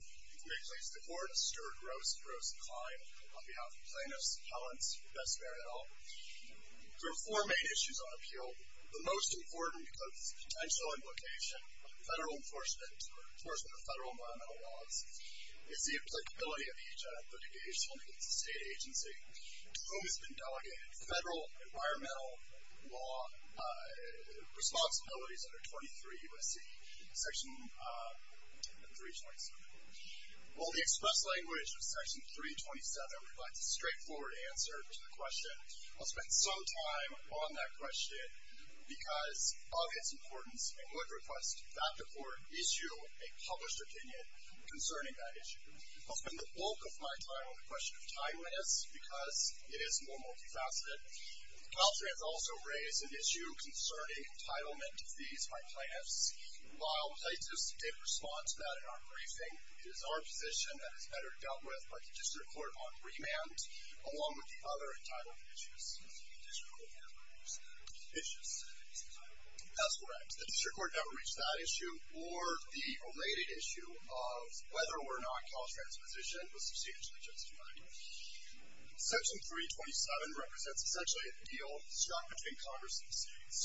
In this case, the Court of Stewart Gross v. Klein on behalf of Plaintiffs, Appellants, and Bess Bair v. Cal. There are four main issues on appeal. The most important, because of its potential implication, of federal enforcement or enforcement of federal environmental laws. It's the applicability of each of the engaged entities, the state agency, to whom it's been delegated federal environmental law responsibilities under 23 U.S.C. Section 327. Well, the express language of Section 327 provides a straightforward answer to the question. I'll spend some time on that question, because of its importance, I would request that the Court issue a published opinion concerning that issue. I'll spend the bulk of my time on the question of timeliness, because it is more multifaceted. CalTrans also raised an issue concerning entitlement to fees by plaintiffs. While plaintiffs did respond to that in our briefing, it is our position that it's better dealt with by the District Court on remand, along with the other entitled issues. The District Court never reached that issue. That's correct. The District Court never reached that issue, or the related issue of whether or not CalTrans' position was substantially justified. Section 327 represents essentially a deal struck between Congress and the states.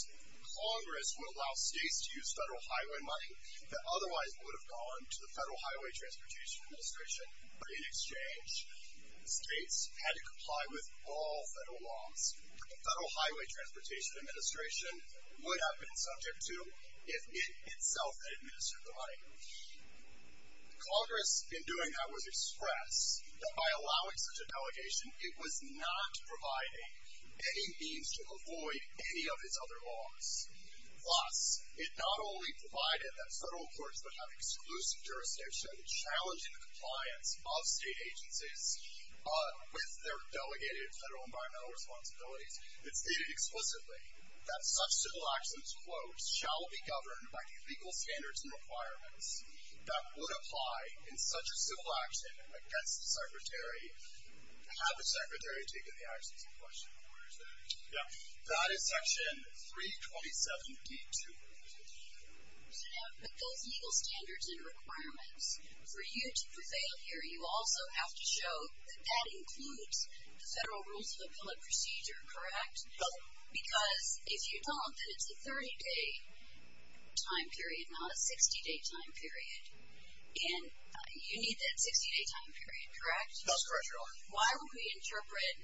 Congress would allow states to use federal highway money that otherwise would have gone to the Federal Highway Transportation Administration in exchange. States had to comply with all federal laws that the Federal Highway Transportation Administration would have been subject to if it itself had administered the money. Congress, in doing that, would express that by allowing such a delegation, it was not providing any means to avoid any of its other laws. Plus, it not only provided that federal courts would have exclusive jurisdiction to challenge the compliance of state agencies with their delegated federal environmental responsibilities, which shall be governed by the legal standards and requirements that would apply in such a civil action against the Secretary, had the Secretary taken the actions in question. Where is that? That is Section 327d.2. But those legal standards and requirements, for you to prevail here, you also have to show that that includes the Federal Rules of Appellate Procedure, correct? Because if you don't, then it's a 30-day time period, not a 60-day time period. And you need that 60-day time period, correct? That's correct, Your Honor. Why would we interpret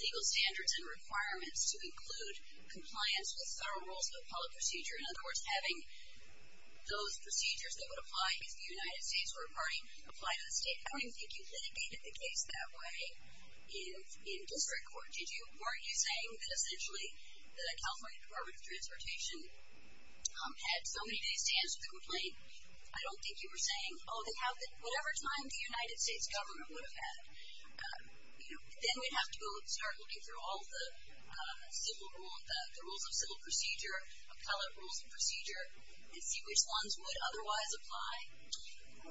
legal standards and requirements to include compliance with Federal Rules of Appellate Procedure? In other words, having those procedures that would apply if the United States were a party, apply to the state. I don't even think you litigated the case that way in district court, did you? Weren't you saying that essentially the California Department of Transportation had so many days to answer the complaint? I don't think you were saying, oh, whatever time the United States government would have had. Then we'd have to start looking through all the rules of civil procedure, appellate rules of procedure, and see which ones would otherwise apply.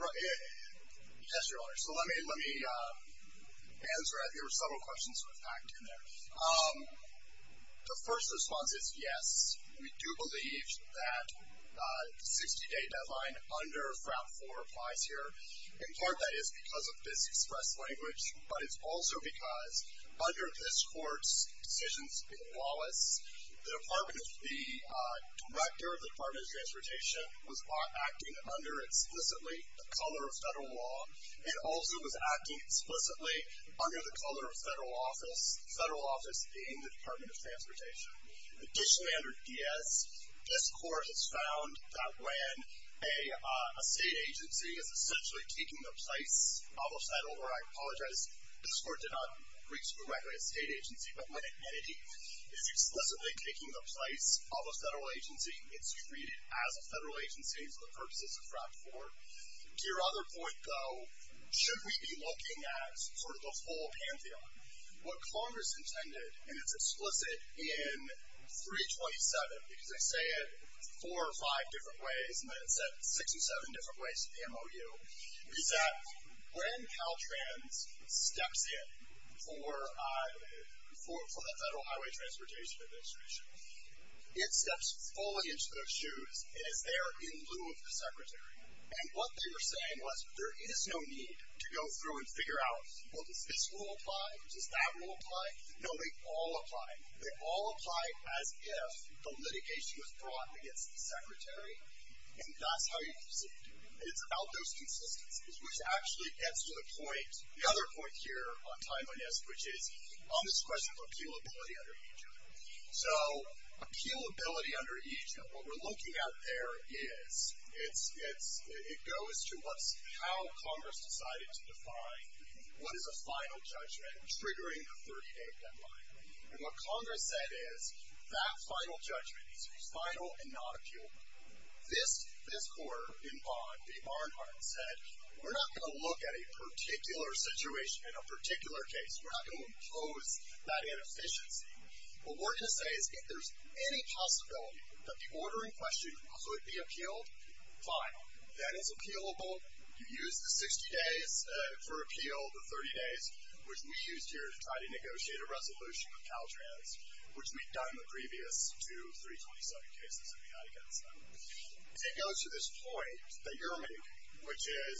Yes, Your Honor. So let me answer it. There were several questions that were packed in there. The first response is yes. We do believe that the 60-day deadline under Fram 4 applies here. In part, that is because of this express language, but it's also because under this Court's decisions in Wallace, the Director of the Department of Transportation was acting under explicitly the color of federal law and also was acting explicitly under the color of federal office, federal office being the Department of Transportation. Additionally, under DS, this Court has found that when a state agency is essentially taking their place, I'll move that over. I apologize. This Court did not reach directly a state agency, but when an entity is explicitly taking the place of a federal agency, it's treated as a federal agency for the purposes of Fram 4. To your other point, though, should we be looking at sort of the full pantheon? What Congress intended, and it's explicit in 327, because they say it four or five different ways, and then it's said 67 different ways at the MOU, is that when Caltrans steps in for the Federal Highway Transportation Administration, it steps fully into those shoes and is there in lieu of the Secretary. And what they were saying was there is no need to go through and figure out, well, does this rule apply? Does that rule apply? No, they all apply. They all apply as if the litigation was brought against the Secretary, and that's how you proceed. It's about those consistencies, which actually gets to the point, the other point here on time on this, which is on this question of appealability under EJ. So appealability under EJ, what we're looking at there is it goes to how Congress decided to define what is a final judgment triggering the 30-day deadline. And what Congress said is that final judgment is final and not appealable. This quarter in bond, the Barnhart said, we're not going to look at a particular situation in a particular case. We're not going to impose that inefficiency. What we're going to say is if there's any possibility that the order in question could be appealed, fine, that is appealable. You use the 60 days for appeal, the 30 days, which we used here to try to negotiate a resolution with Caltrans, which we've done in the previous two 327 cases that we had against them. It goes to this point that you're making, which is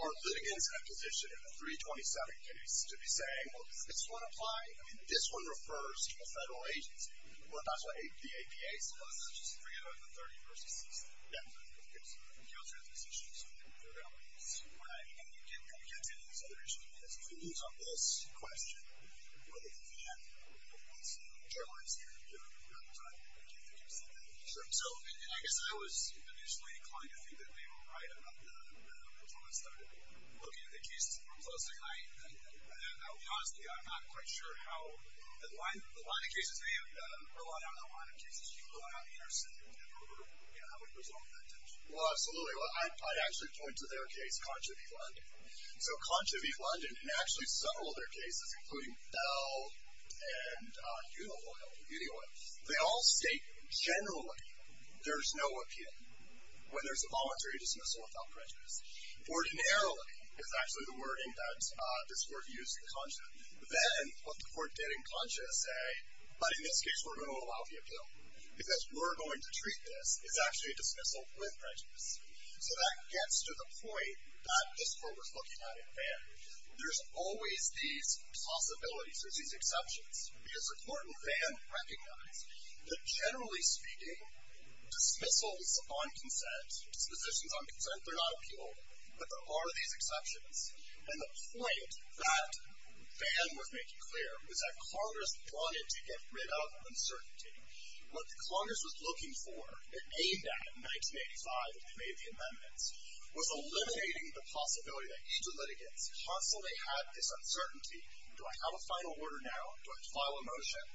our litigants have a position in the 327 case to be saying, well, does this one apply? I mean, this one refers to a federal agency. That's what the APA says. I guess I was initially inclined to think that they were right about the performance study. Looking at the cases that were posted, I honestly am not quite sure how the line of cases they have relied on, how the line of cases you go out and intercede with them, or how it goes along with that tension. Well, absolutely. I'd actually point to their case, Concha v. London. So Concha v. London, and actually several other cases, including Bell and Unioil, they all state generally there's no appeal when there's a voluntary dismissal without prejudice. Ordinarily is actually the wording that this court used in Concha. Then what the court did in Concha is say, but in this case we're going to allow the appeal, because we're going to treat this as actually a dismissal with prejudice. So that gets to the point that this court was looking at in Vann. There's always these possibilities, there's these exceptions, because the court in Vann recognized that generally speaking, dismissals on consent, dispositions on consent, they're not appealed, but there are these exceptions. And the point that Vann was making clear was that Congress wanted to get rid of uncertainty. What Congress was looking for, it aimed at in 1985 when they made the amendments, was eliminating the possibility that each of the litigants constantly had this uncertainty. Do I have a final order now? Do I file a motion?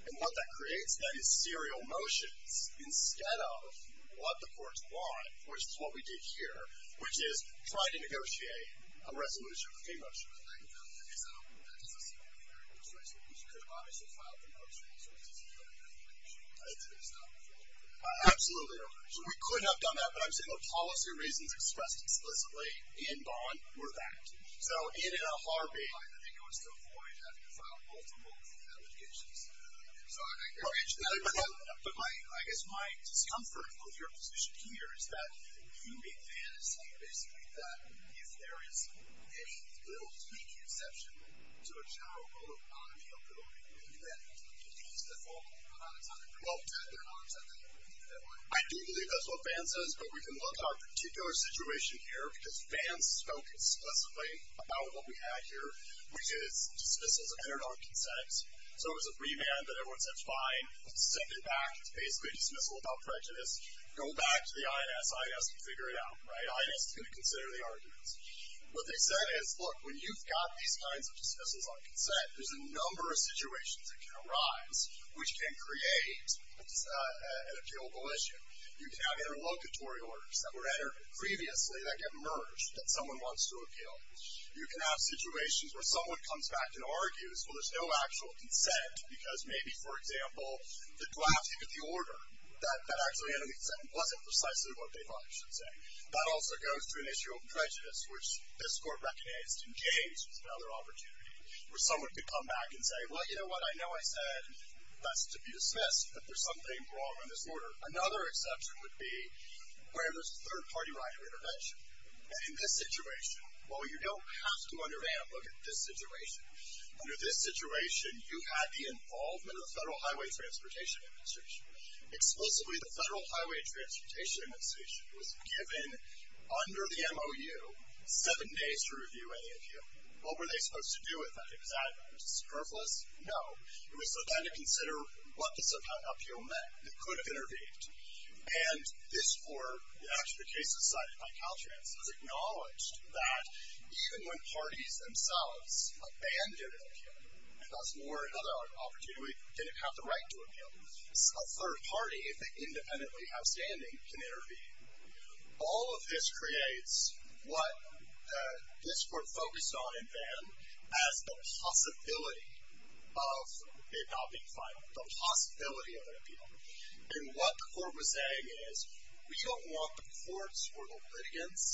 And what that creates then is serial motions instead of what the courts want, which is what we did here, which is try to negotiate a resolution with a motion. So that doesn't sound very much like a resolution. You could have obviously filed a motion, so it's just a different definition. It's based on a different definition. Absolutely. So we could have done that, but I'm saying the policy reasons expressed explicitly in Vann were that. So in a heartbeat. I think it was to avoid having to file multiple allegations. So I think you mentioned that. But I guess my discomfort with your position here is that you make Vann assume, basically, that if there is any little teeny exception to a general rule of autonomy of voting, then he's the full autonomous owner. Well, they're autonomous owners. I do believe that's what Vann says, but we can look at our particular situation here because Vann spoke explicitly about what we had here, which is dismissal of internal consent. So it was a free man that everyone said is fine. Send it back. It's basically a dismissal without prejudice. Go back to the INS. INS can figure it out. INS is going to consider the arguments. What they said is, look, when you've got these kinds of dismissals on consent, there's a number of situations that can arise which can create an appealable issue. You can have interlocutory orders that were entered previously that get merged that someone wants to appeal. You can have situations where someone comes back and argues, well, there's no actual consent because maybe, for example, the drafting of the order, that actually wasn't precisely what they thought it should say. That also goes to an issue of prejudice, which this court recognized in James was another opportunity, where someone could come back and say, well, you know what? I know I said that's to be dismissed, but there's something wrong in this order. Another exception would be where there's a third-party right of intervention. In this situation, well, you don't have to, under Vann, look at this situation. Under this situation, you had the involvement of the Federal Highway Transportation Administration. Explicitly, the Federal Highway Transportation Administration was given, under the MOU, seven days to review any appeal. What were they supposed to do with that? Was that superfluous? No. It was for them to consider what this appeal meant. It could have intervened. And this court, after the case was cited by Caltrans, acknowledged that even when parties themselves abandoned an appeal, and that's more another opportunity, didn't have the right to appeal, a third party, if they independently have standing, can intervene. All of this creates what this court focused on in Vann as the possibility of it not being final, the possibility of an appeal. And what the court was saying is, we don't want the courts or the litigants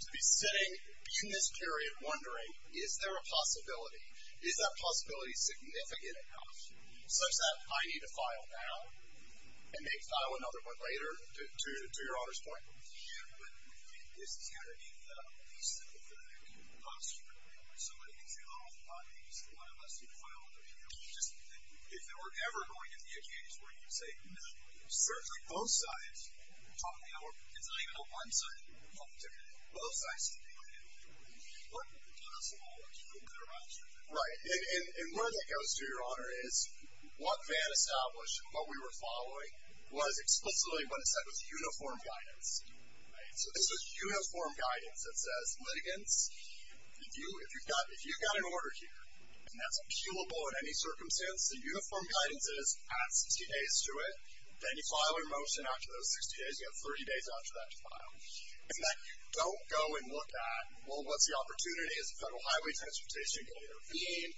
to be sitting in this period wondering, is there a possibility? Is that possibility significant enough such that I need to file now and may file another one later, to your honor's point? Yeah, but I think this is going to be the piece that we're going to have to bust. Somebody can say, well, I'm not going to file unless you file an appeal. If there were ever going to be a case where you say no, certainly both sides, it's not even a one-sided argument, it's a two-sided argument, both sides are going to be looking at it. What would be possible to do with their options? Right, and where that goes to, your honor, is what Vann established and what we were following was explicitly what it said was uniform guidance. So this is uniform guidance that says, litigants, if you've got an order here, and that's appealable in any circumstance, the uniform guidance is, add 60 days to it, then you file a motion after those 60 days, you have 30 days after that to file. And then don't go and look at, well, what's the opportunity? Is it federal highway transportation going to intervene?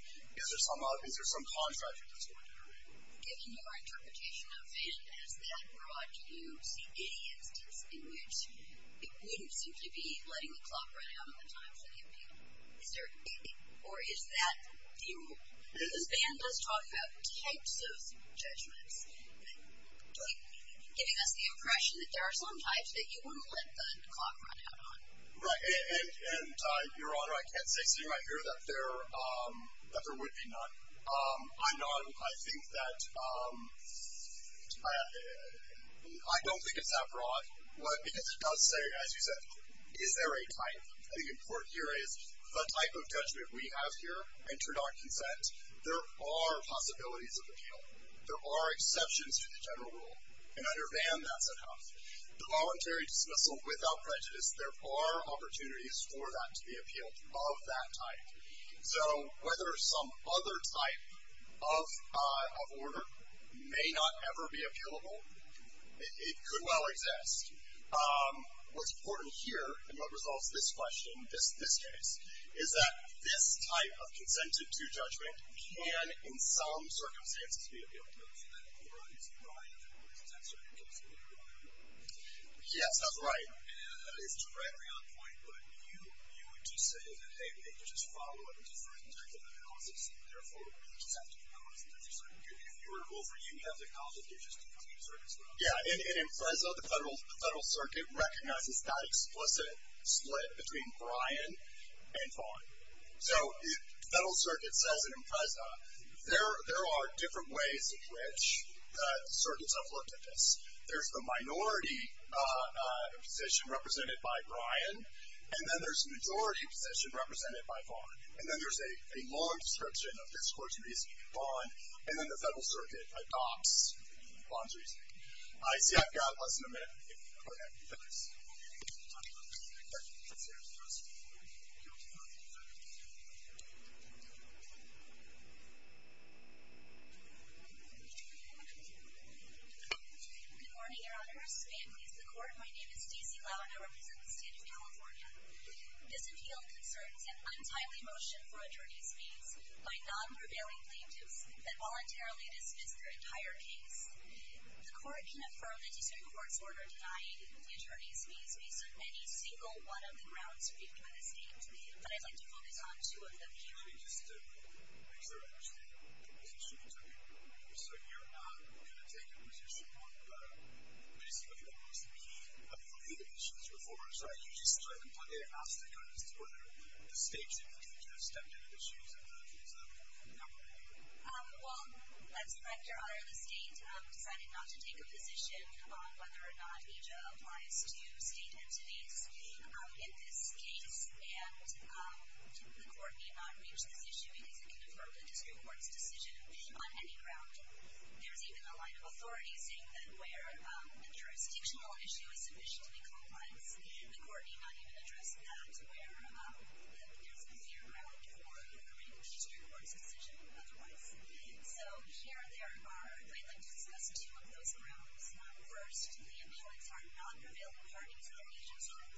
Is there some contract that's going to intervene? Given your interpretation of Vann as that broad, do you see any instances in which it wouldn't simply be letting the clock run out on the time for the appeal? Or is that the rule? Because Vann does talk about types of judgments, giving us the impression that there are some types that you wouldn't let the clock run out on. Right, and your honor, I can't say sitting right here that there would be none. I'm not, I think that, I don't think it's that broad, because it does say, as you said, is there a type? The important here is, the type of judgment we have here, inter-doc consent, there are possibilities of appeal. There are exceptions to the general rule. And under Vann, that's enough. The voluntary dismissal without prejudice, there are opportunities for that to be appealed of that type. So whether some other type of order may not ever be appealable, it could well exist. What's important here, and what resolves this question, this case, is that this type of consented to judgment can, in some circumstances, be appealed. Yes, that's right. And that is directly on point, but you would just say that, hey, we can just follow up with different types of analysis, and therefore, we just have to be honest with each other. If you were over, you'd have to acknowledge that you're just coming to circuit as well. Yeah, and in Impreza, the Federal Circuit recognizes that explicit split between Bryan and Vann. So the Federal Circuit says in Impreza, there are different ways in which circuits have looked at this. There's the minority position represented by Bryan, and then there's the majority position represented by Vann. And then there's a long description of this court's reasoning with Vann, and then the Federal Circuit adopts Vann's reasoning. The judge will decide the concerns of the court. Good morning, Your Honors. I am with the court. My name is Stacey Loud. I represent the state of California. This appealed concerns an untimely motion for attorneys' fees by non-prevailing plaintiffs that voluntarily dismiss the entire case. The court can affirm the district court's order denying the attorneys' fees based on any single one of the grounds agreed by the state, but I'd like to focus on two of them here. Okay, just to make sure, actually, the position is okay. So you're not going to take a position on basically what used to be a few of the issues before, so you just let them, they asked the judges whether the states in particular stepped into the shoes of the case, and they're not going to take it? Well, I respect your honor of the state, decided not to take a position on whether or not EJA applies to state entities in this case, and the court may not reach this issue, because it can affirm the district court's decision on any ground. There's even a line of authority saying that where a jurisdictional issue is sufficiently complex, the court may not even address that, where there's a zero for affirming the district court's decision otherwise. Okay, so here there are, I'd like to discuss two of those grounds. First, the appellants are not available for an investigation. It's not an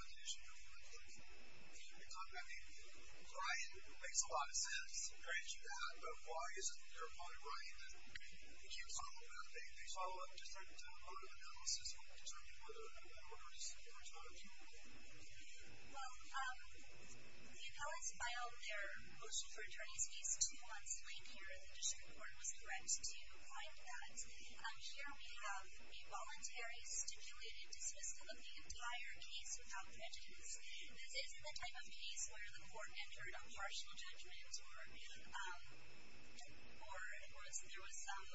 investigation, they're not available for an investigation, because, I mean, Ryan makes a lot of sense comparing it to that, but why isn't there a part of Ryan that, I mean, they can't follow up, they follow up just on a part of the analysis concerning whether or not it works, or it's not a tool? Well, the appellants filed their motion for attorney's fees two months later, and the district court was correct to find that. Here we have a voluntary, stipulated dismissal of the entire case without prejudice. This isn't the type of case where the court entered a partial judgment, or there was some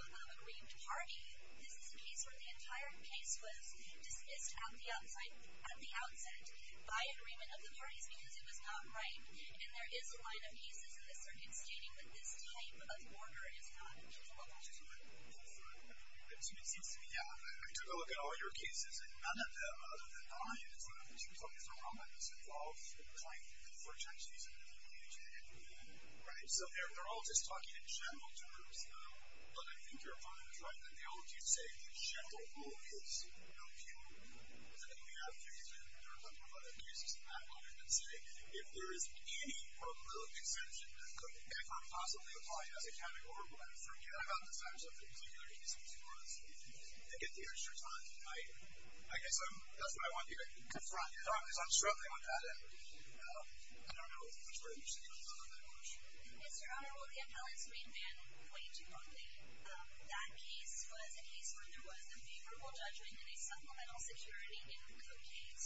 agreed party. This is a case where the entire case was dismissed at the outset by agreement of the parties, because it was not right. And there is a line of cases in this circuit stating that this type of order is not appropriate. Well, that's just what I'm looking for. So it seems to me, yeah, I took a look at all your cases, and none of them, other than Ryan, is what I'm interested in talking about, is the raw madness involved in trying to get the court to actually submit a complete judgment. Right, so they're all just talking in general terms, but I think you're probably correct that they all do say the general rule is no punitive. I think we have cases, and there are a number of other cases, and I wonder, let's say, if there is any probability extension that could ever possibly apply as a category, I forget about the types of things that you're using for this case, to get the extra time. I guess that's what I want you to confront, because I'm struggling on that end. I don't know which way you should be looking on that question. Mr. Honorable, the appellant's main ban, way too early. That case was a case where there was a favorable judgment in a supplemental security code case,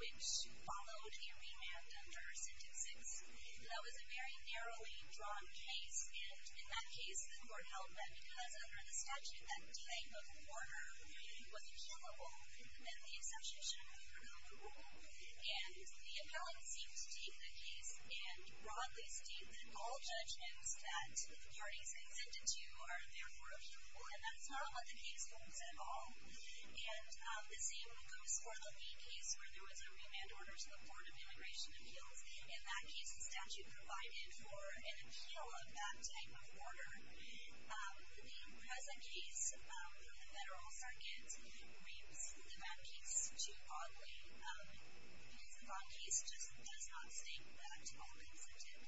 which followed a remand under Sentence 6, and that was a very narrowly drawn case, and in that case, the court held that because under the statute, that delaying of the order, it was appealable, that the exception should have been removed, and the appellant seems to take the case and broadly state that all judgments that parties extended to are therefore appealable, and that's not what the case holds at all, and the same goes for the lead case where there was a remand order to the Board of Immigration Appeals. In that case, the statute provided for an appeal of that type of order. The present case, the Federal Circuit reaps the ban case too oddly. It is a bond case, just does not state that all exempted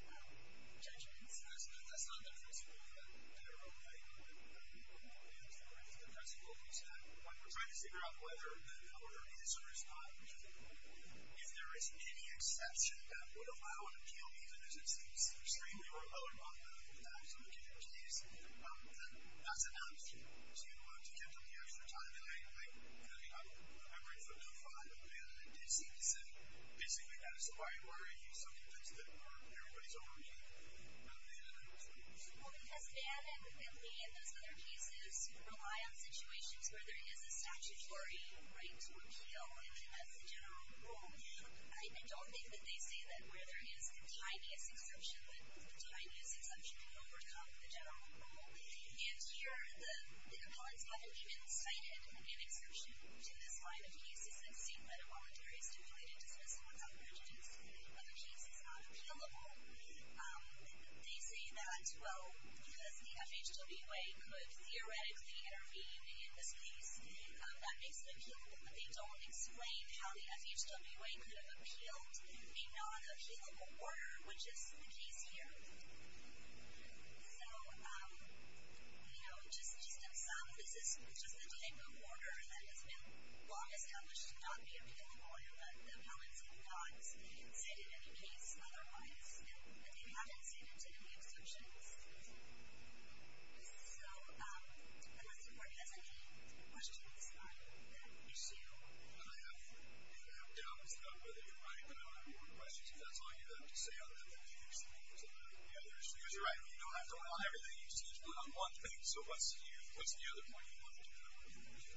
judgments. That's not the principle of the Federal Code. That's the principle of the statute. We're trying to figure out whether the order is a risk bond, and if there is any exception that would allow an appeal, even if it's extremely remote or not relevant at all to the given case, that's enough to get them the extra time delay. I mean, I read from Code 5, and it did seem to say, basically, that is the way it were, and he's so convinced that everybody's overeating, and that that was the case. Well, it has banned, and we believe, those other cases rely on situations where there is a statutory right to appeal, and it has a general rule. I don't think that they say that where there is the tiniest exception, that the tiniest exception can overcome the general rule. And here, the appellants haven't even cited an exception to this line of cases. I've seen letter voluntary stipulated dismissal without prejudice in other cases on appealable. They say that, well, because the FHWA could theoretically intervene in this case, that makes it appealable, but they don't explain how the FHWA could have appealed a non-appealable order, which is the case here. So, you know, just to sum, this is just the type of order that has been long established to not be appealable, but the appellants have not cited any case otherwise, and they haven't cited any exceptions. So, unless the court has any questions on that issue... I have doubts about whether you're right, but I don't have any more questions. If that's all you have to say on that, then you can explain it to the others. Because you're right, you don't have to rely on everything. You can just put on one thing. So what's the other point you wanted to make?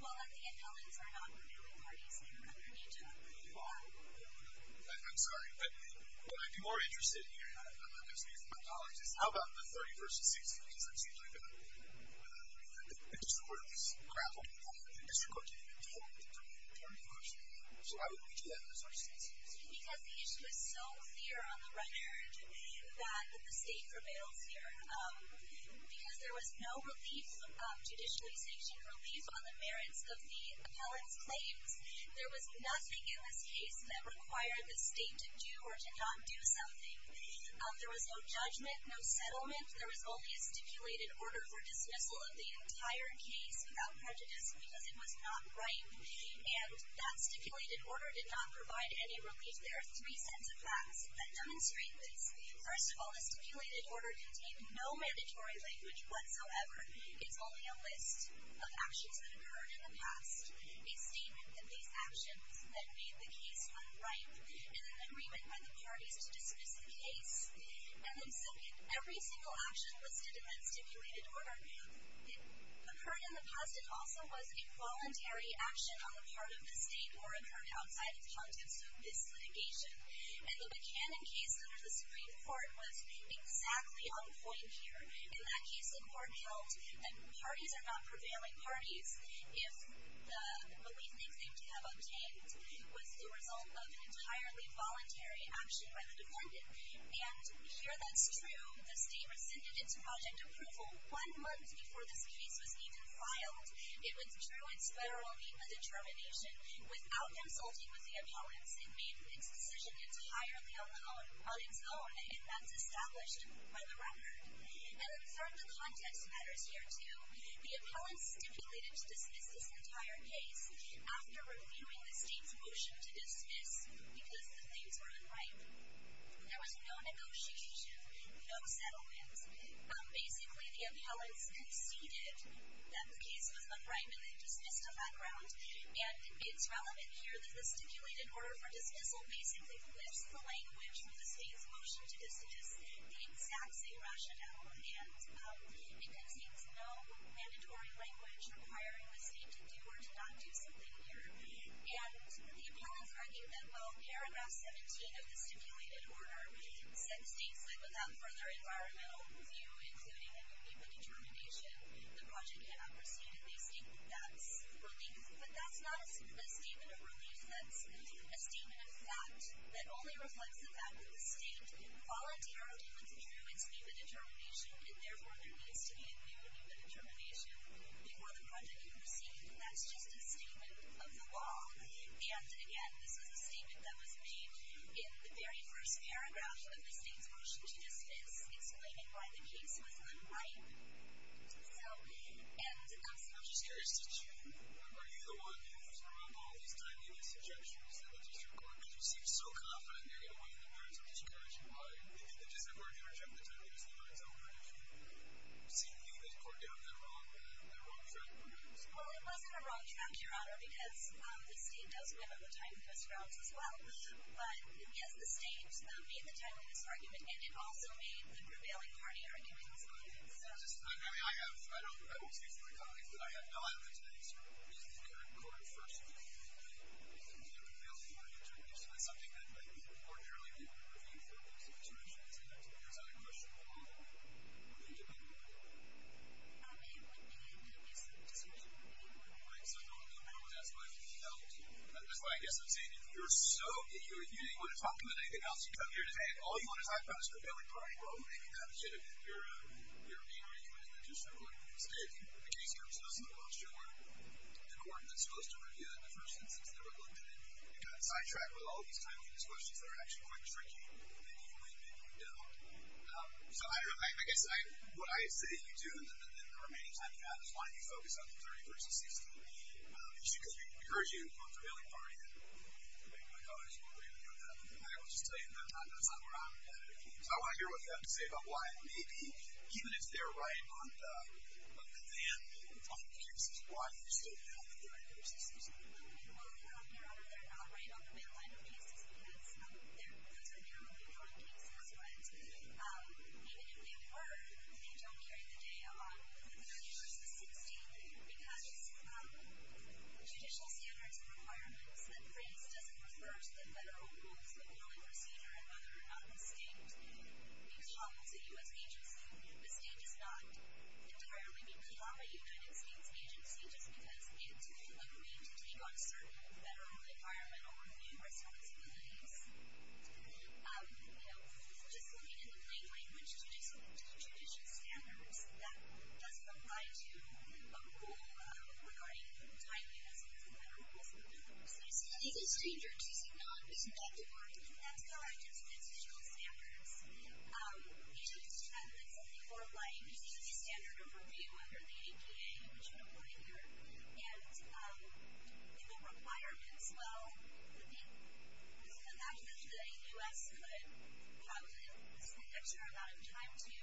Well, that the appellants are not revealing the parties that are underneath it. You are. I'm sorry. But what I'd be more interested in hearing, and I'm not going to speak for my colleagues, is how about the 31st and 16th, because that's usually the district court that's grappling with that. The district court can't even deal with the 31st. So how do we do that in this case? Because the issue is so clear on the record that the state prevails here. Because there was no relief, judicialization relief, on the merits of the appellant's claims. There was nothing in this case that required the state to do or to not do something. There was no judgment, no settlement. There was only a stipulated order for dismissal of the entire case without prejudice because it was not right. And that stipulated order did not provide any relief. There are three sets of facts that demonstrate this. First of all, the stipulated order contained no mandatory language whatsoever. It's only a list of actions that occurred in the past, a statement in these actions that made the case unright, and an agreement by the parties to dismiss the case. And then second, every single action was to defend stipulated order. It occurred in the past. It also was a voluntary action on the part of the state or occurred outside of the context of this litigation. And the Buchanan case under the Supreme Court was exactly on point here. In that case, the court held that parties are not prevailing parties if the relief they claim to have obtained was the result of an entirely voluntary action by the defendant. And here, that's true. The state rescinded its project approval one month before this case was even filed. It withdrew its federal determination without consulting with the appellants. It made its decision entirely on its own. And that's established by the record. And then some of the context matters here, too. The appellants stipulated to dismiss this entire case after reviewing the state's motion to dismiss because the things were unright. There was no negotiation, no settlement. Basically, the appellants conceded that the case was unright and they dismissed on that ground. And it's relevant here that the stipulated order for dismissal basically flips the language from the state's motion to just the exact same rationale. And it contains no mandatory language requiring the state to do or to not do something here. And the appellants' argument, well, paragraph 17 of the stipulated order said the state said without further environmental review, including a new people determination, the project cannot proceed. And they state that's the relief. But that's not a statement of relief. That's a statement of fact that only reflects the fact that the state voluntarily withdrew its new people determination. And therefore, there needs to be a new people determination before the project can proceed. And that's just a statement of the law. And again, this was a statement that was made in the very first paragraph of the state's motion to dismiss, explaining why the case was unright. So, and I'm just curious, did you, were you the one, because I remember all these time, seeing these suggestions that the district court could just seem so confident they're going to win the warrants of discouragement, why did the district court never jump the time to use the warrants of discouragement? Seeing you and the court down that wrong track? Well, it wasn't a wrong track, Your Honor, because the state does win on the time-first grounds as well. But yes, the state made the time-first argument. And it also made the prevailing party argument. I mean, I have, I don't speak for the colleagues, but I have no evidence that the district court first made the prevailing party argument. So that's something that might be ordinarily reviewed for a case of discouragement. And there's another question. What do you think about that? It wouldn't be a case of discouragement anymore. Right, so it wouldn't be a problem. That's what I felt. And that's why I guess I'm saying, if you're so, if you didn't want to talk about anything else, you come here today, and all you want to talk about is the prevailing party. Well, maybe that's it. Your main argument is that you're struggling with the state. The case here was supposed to be a little shorter. The court that's supposed to review it in the first instance never looked at it. It got sidetracked with all these time-famous questions that are actually quite tricky. Maybe you win. Maybe you don't. So I don't know. I guess what I say you do in the remaining time you have is why don't you focus on the 31st and 16th? Because we heard you on the prevailing party. And maybe my colleagues will agree with you on that. But I will just tell you that's not where I'm at. So I want to hear what you have to say about why maybe, even if they're right on the Van Linden front cases, why you're still not with the University of Chicago. Well, I don't care if they're not right on the Van Linden cases, because those are narrowly front cases. But even if they were, they don't carry the day along with the 31st and 16th, because judicial standards and requirements that grace doesn't refer to the federal rules that only state be called a U.S. agency. The state does not entirely be called a United States agency just because it's required to take on certain federal environmental review responsibilities. So just looking in the plain language to judicial standards, that doesn't apply to a rule regarding time units within the federal rules of the university. I think it's dangerous to not respect or think that's how I judge judicial standards. And it's something more like the standard of review under the APA, which I'm reporting here. And in the requirements, well, I think the fact that the U.S. could probably extend extra amount of time to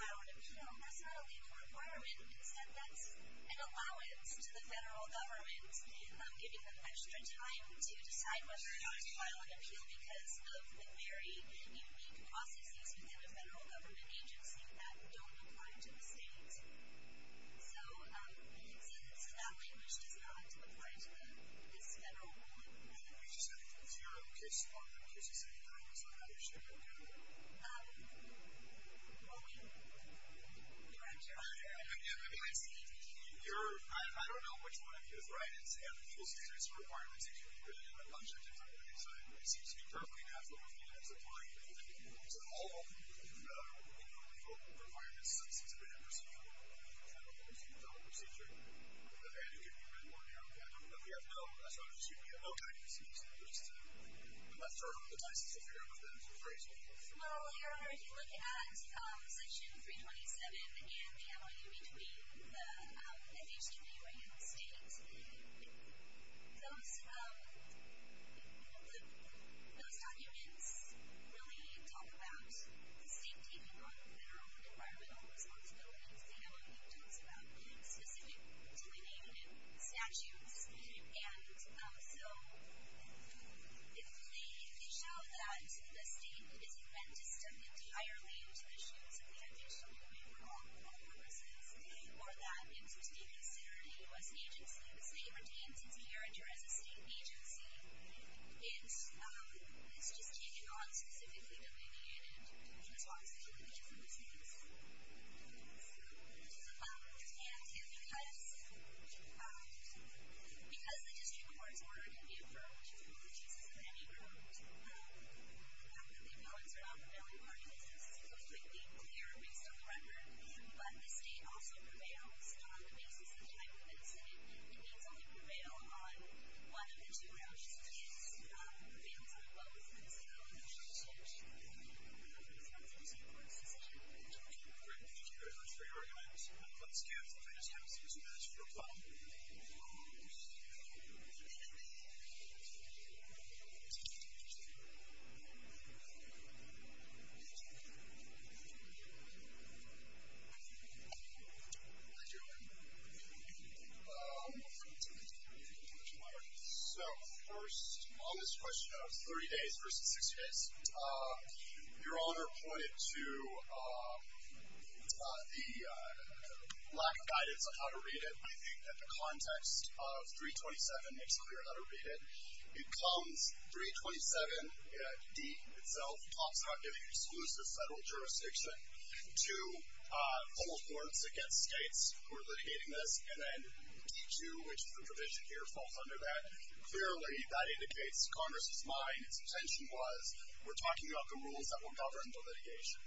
file an appeal, that's not a legal requirement. Instead, that's an allowance to the federal government giving them extra time to decide whether or not to file an appeal because of the very unique processes within the federal government agency that don't apply to the state. So it's a value which does not apply to this federal rule. Let me just add, if it's your case, or in case it's anybody else's, I'm not sure. Well, wait a minute. Director. I mean, I don't know which one of you is right. It seems to me perfectly natural to think that it's applying to all legal requirements since it's a federal procedure. I don't know if it's a federal procedure. And it could be more narrow. But we have no, I'm sorry, excuse me, we have no kind of cease and desist. I'm not sure what the basis of your argument is. Well, Your Honor, if you look at section 327 and the alloy between the FHWA and the state, those documents really talk about the state taking on federal environmental responsibilities. They don't talk about specific training and statutes. And so if you show that the state is meant to step entirely into the shoes of the FHWA for all purposes, or that it's a state-considered U.S. agency, say you were deemed since a year and you're as a state agency, it's just taking on specifically delineated responsibilities from the state. And because the district court's order can be approved, which isn't in any group, and the appellants are not the billing parties, this is completely clear based on the record, but the state also prevails on the basis of the type of medicine it needs. It needs only prevail on one of the two rounds, which is prevails on both medicine and other medicines. So it's a district court's decision. Okay, great. Thank you very much for your argument. Let's give the witnesses a chance to reply. Thank you. So first, on this question of 30 days versus 60 days, you're all interpointed to the lack of guidance on how to read it. I think that the context of 327 makes clear how to read it. It comes, 327D itself talks about giving exclusive federal jurisdiction to full courts against states who are litigating this, and then D2, which is the provision here, falls under that. Clearly, that indicates Congress's mind, its intention was we're talking about the rules that will govern the litigation.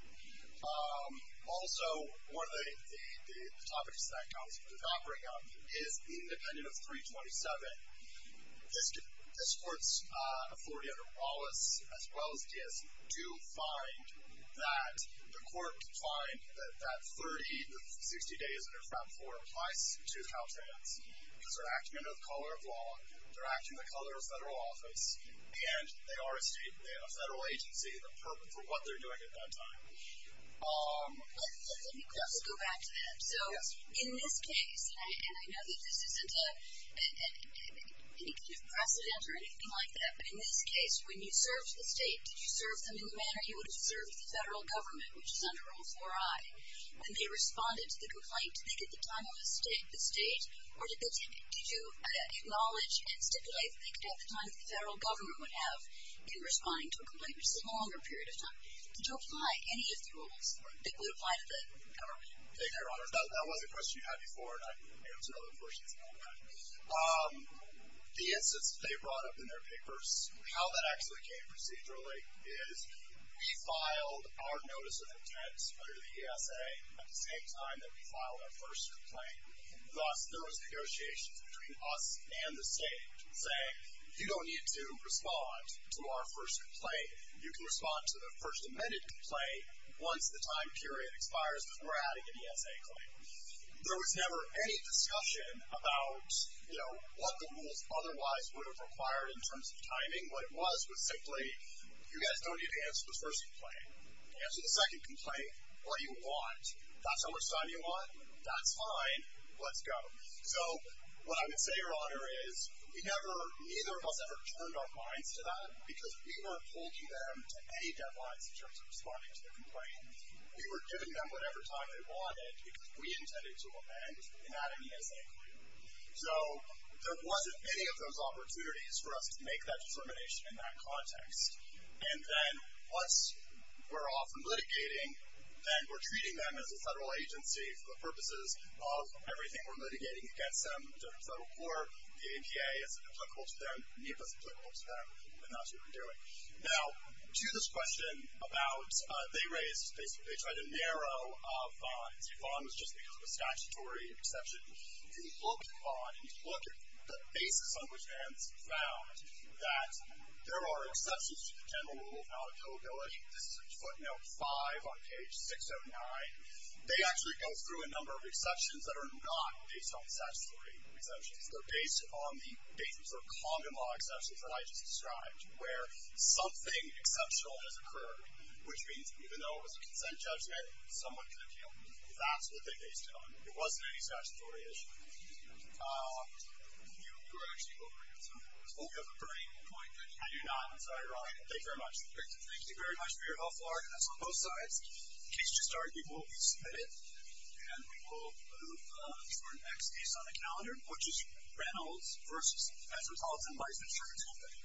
Also, one of the topics that Congress was not bringing up is the independent of 327. This court's authority under Wallace, as well as Diaz, do find that the court can find that 30 to 60 days under FRAP 4 applies to Caltrans, because they're acting under the color of law, they're acting in the color of federal office, and they are a state, a federal agency, and the purpose of what they're doing at that time. Let me go back to that. So in this case, and I know that this isn't any kind of precedent or anything like that, but in this case, when you served the state, did you serve them in the manner you would have served the federal government, which is under Rule 4I? When they responded to the complaint, did they get the time of the state, or did you acknowledge and stipulate that they could have the time that the federal government would have in responding to a complaint, which is a longer period of time? Did you apply any of the rules that would apply to the government? Thank you, Your Honor. That was a question you had before, and I can answer other questions about that. The instance they brought up in their papers, how that actually came procedurally is, we filed our notice of intent under the ESA at the same time that we filed our first complaint. Thus, there was negotiations between us and the state saying, you don't need to respond to our first complaint. You can respond to the first amended complaint once the time period expires because we're adding an ESA claim. There was never any discussion about, you know, what the rules otherwise would have required in terms of timing. What it was was simply, you guys don't need to answer the first complaint. Answer the second complaint. What do you want? That's how much time you want? That's fine. Let's go. So what I would say, Your Honor, is we never, neither of us ever turned our minds to that because we weren't holding them to any deadlines in terms of responding to their complaint. We were giving them whatever time they wanted because we intended to amend and add an ESA claim. So there wasn't any of those opportunities for us to make that determination in that context. And then once we're off from litigating, then we're treating them as a federal agency for the purposes of everything we're litigating against them in the federal court. The APA is applicable to them. NEPA is applicable to them. And that's what we're doing. Now, to this question about they raised, basically they tried to narrow Vaughn. See, Vaughn was just because of a statutory exception. If you look at Vaughn and you look at the basis on which Vance found that there are exceptions to the general rule of non-availability, this is in footnote 5 on page 609, they actually go through a number of exceptions that are not based on statutory exceptions. They're based on the basis of condom law exceptions that I just described where something exceptional has occurred, which means even though it was a consent judgment, someone could have killed me. That's what they based it on. There wasn't any statutory issue. You were actually over here somewhere. Oh, you have a burning point. I do not. I'm sorry. You're on. Thank you very much. Thank you very much for your helpful arguments on both sides. The case to start will be submitted, and we will move to our next case on the calendar, which is Reynolds v. Metropolitan Life Insurance Company.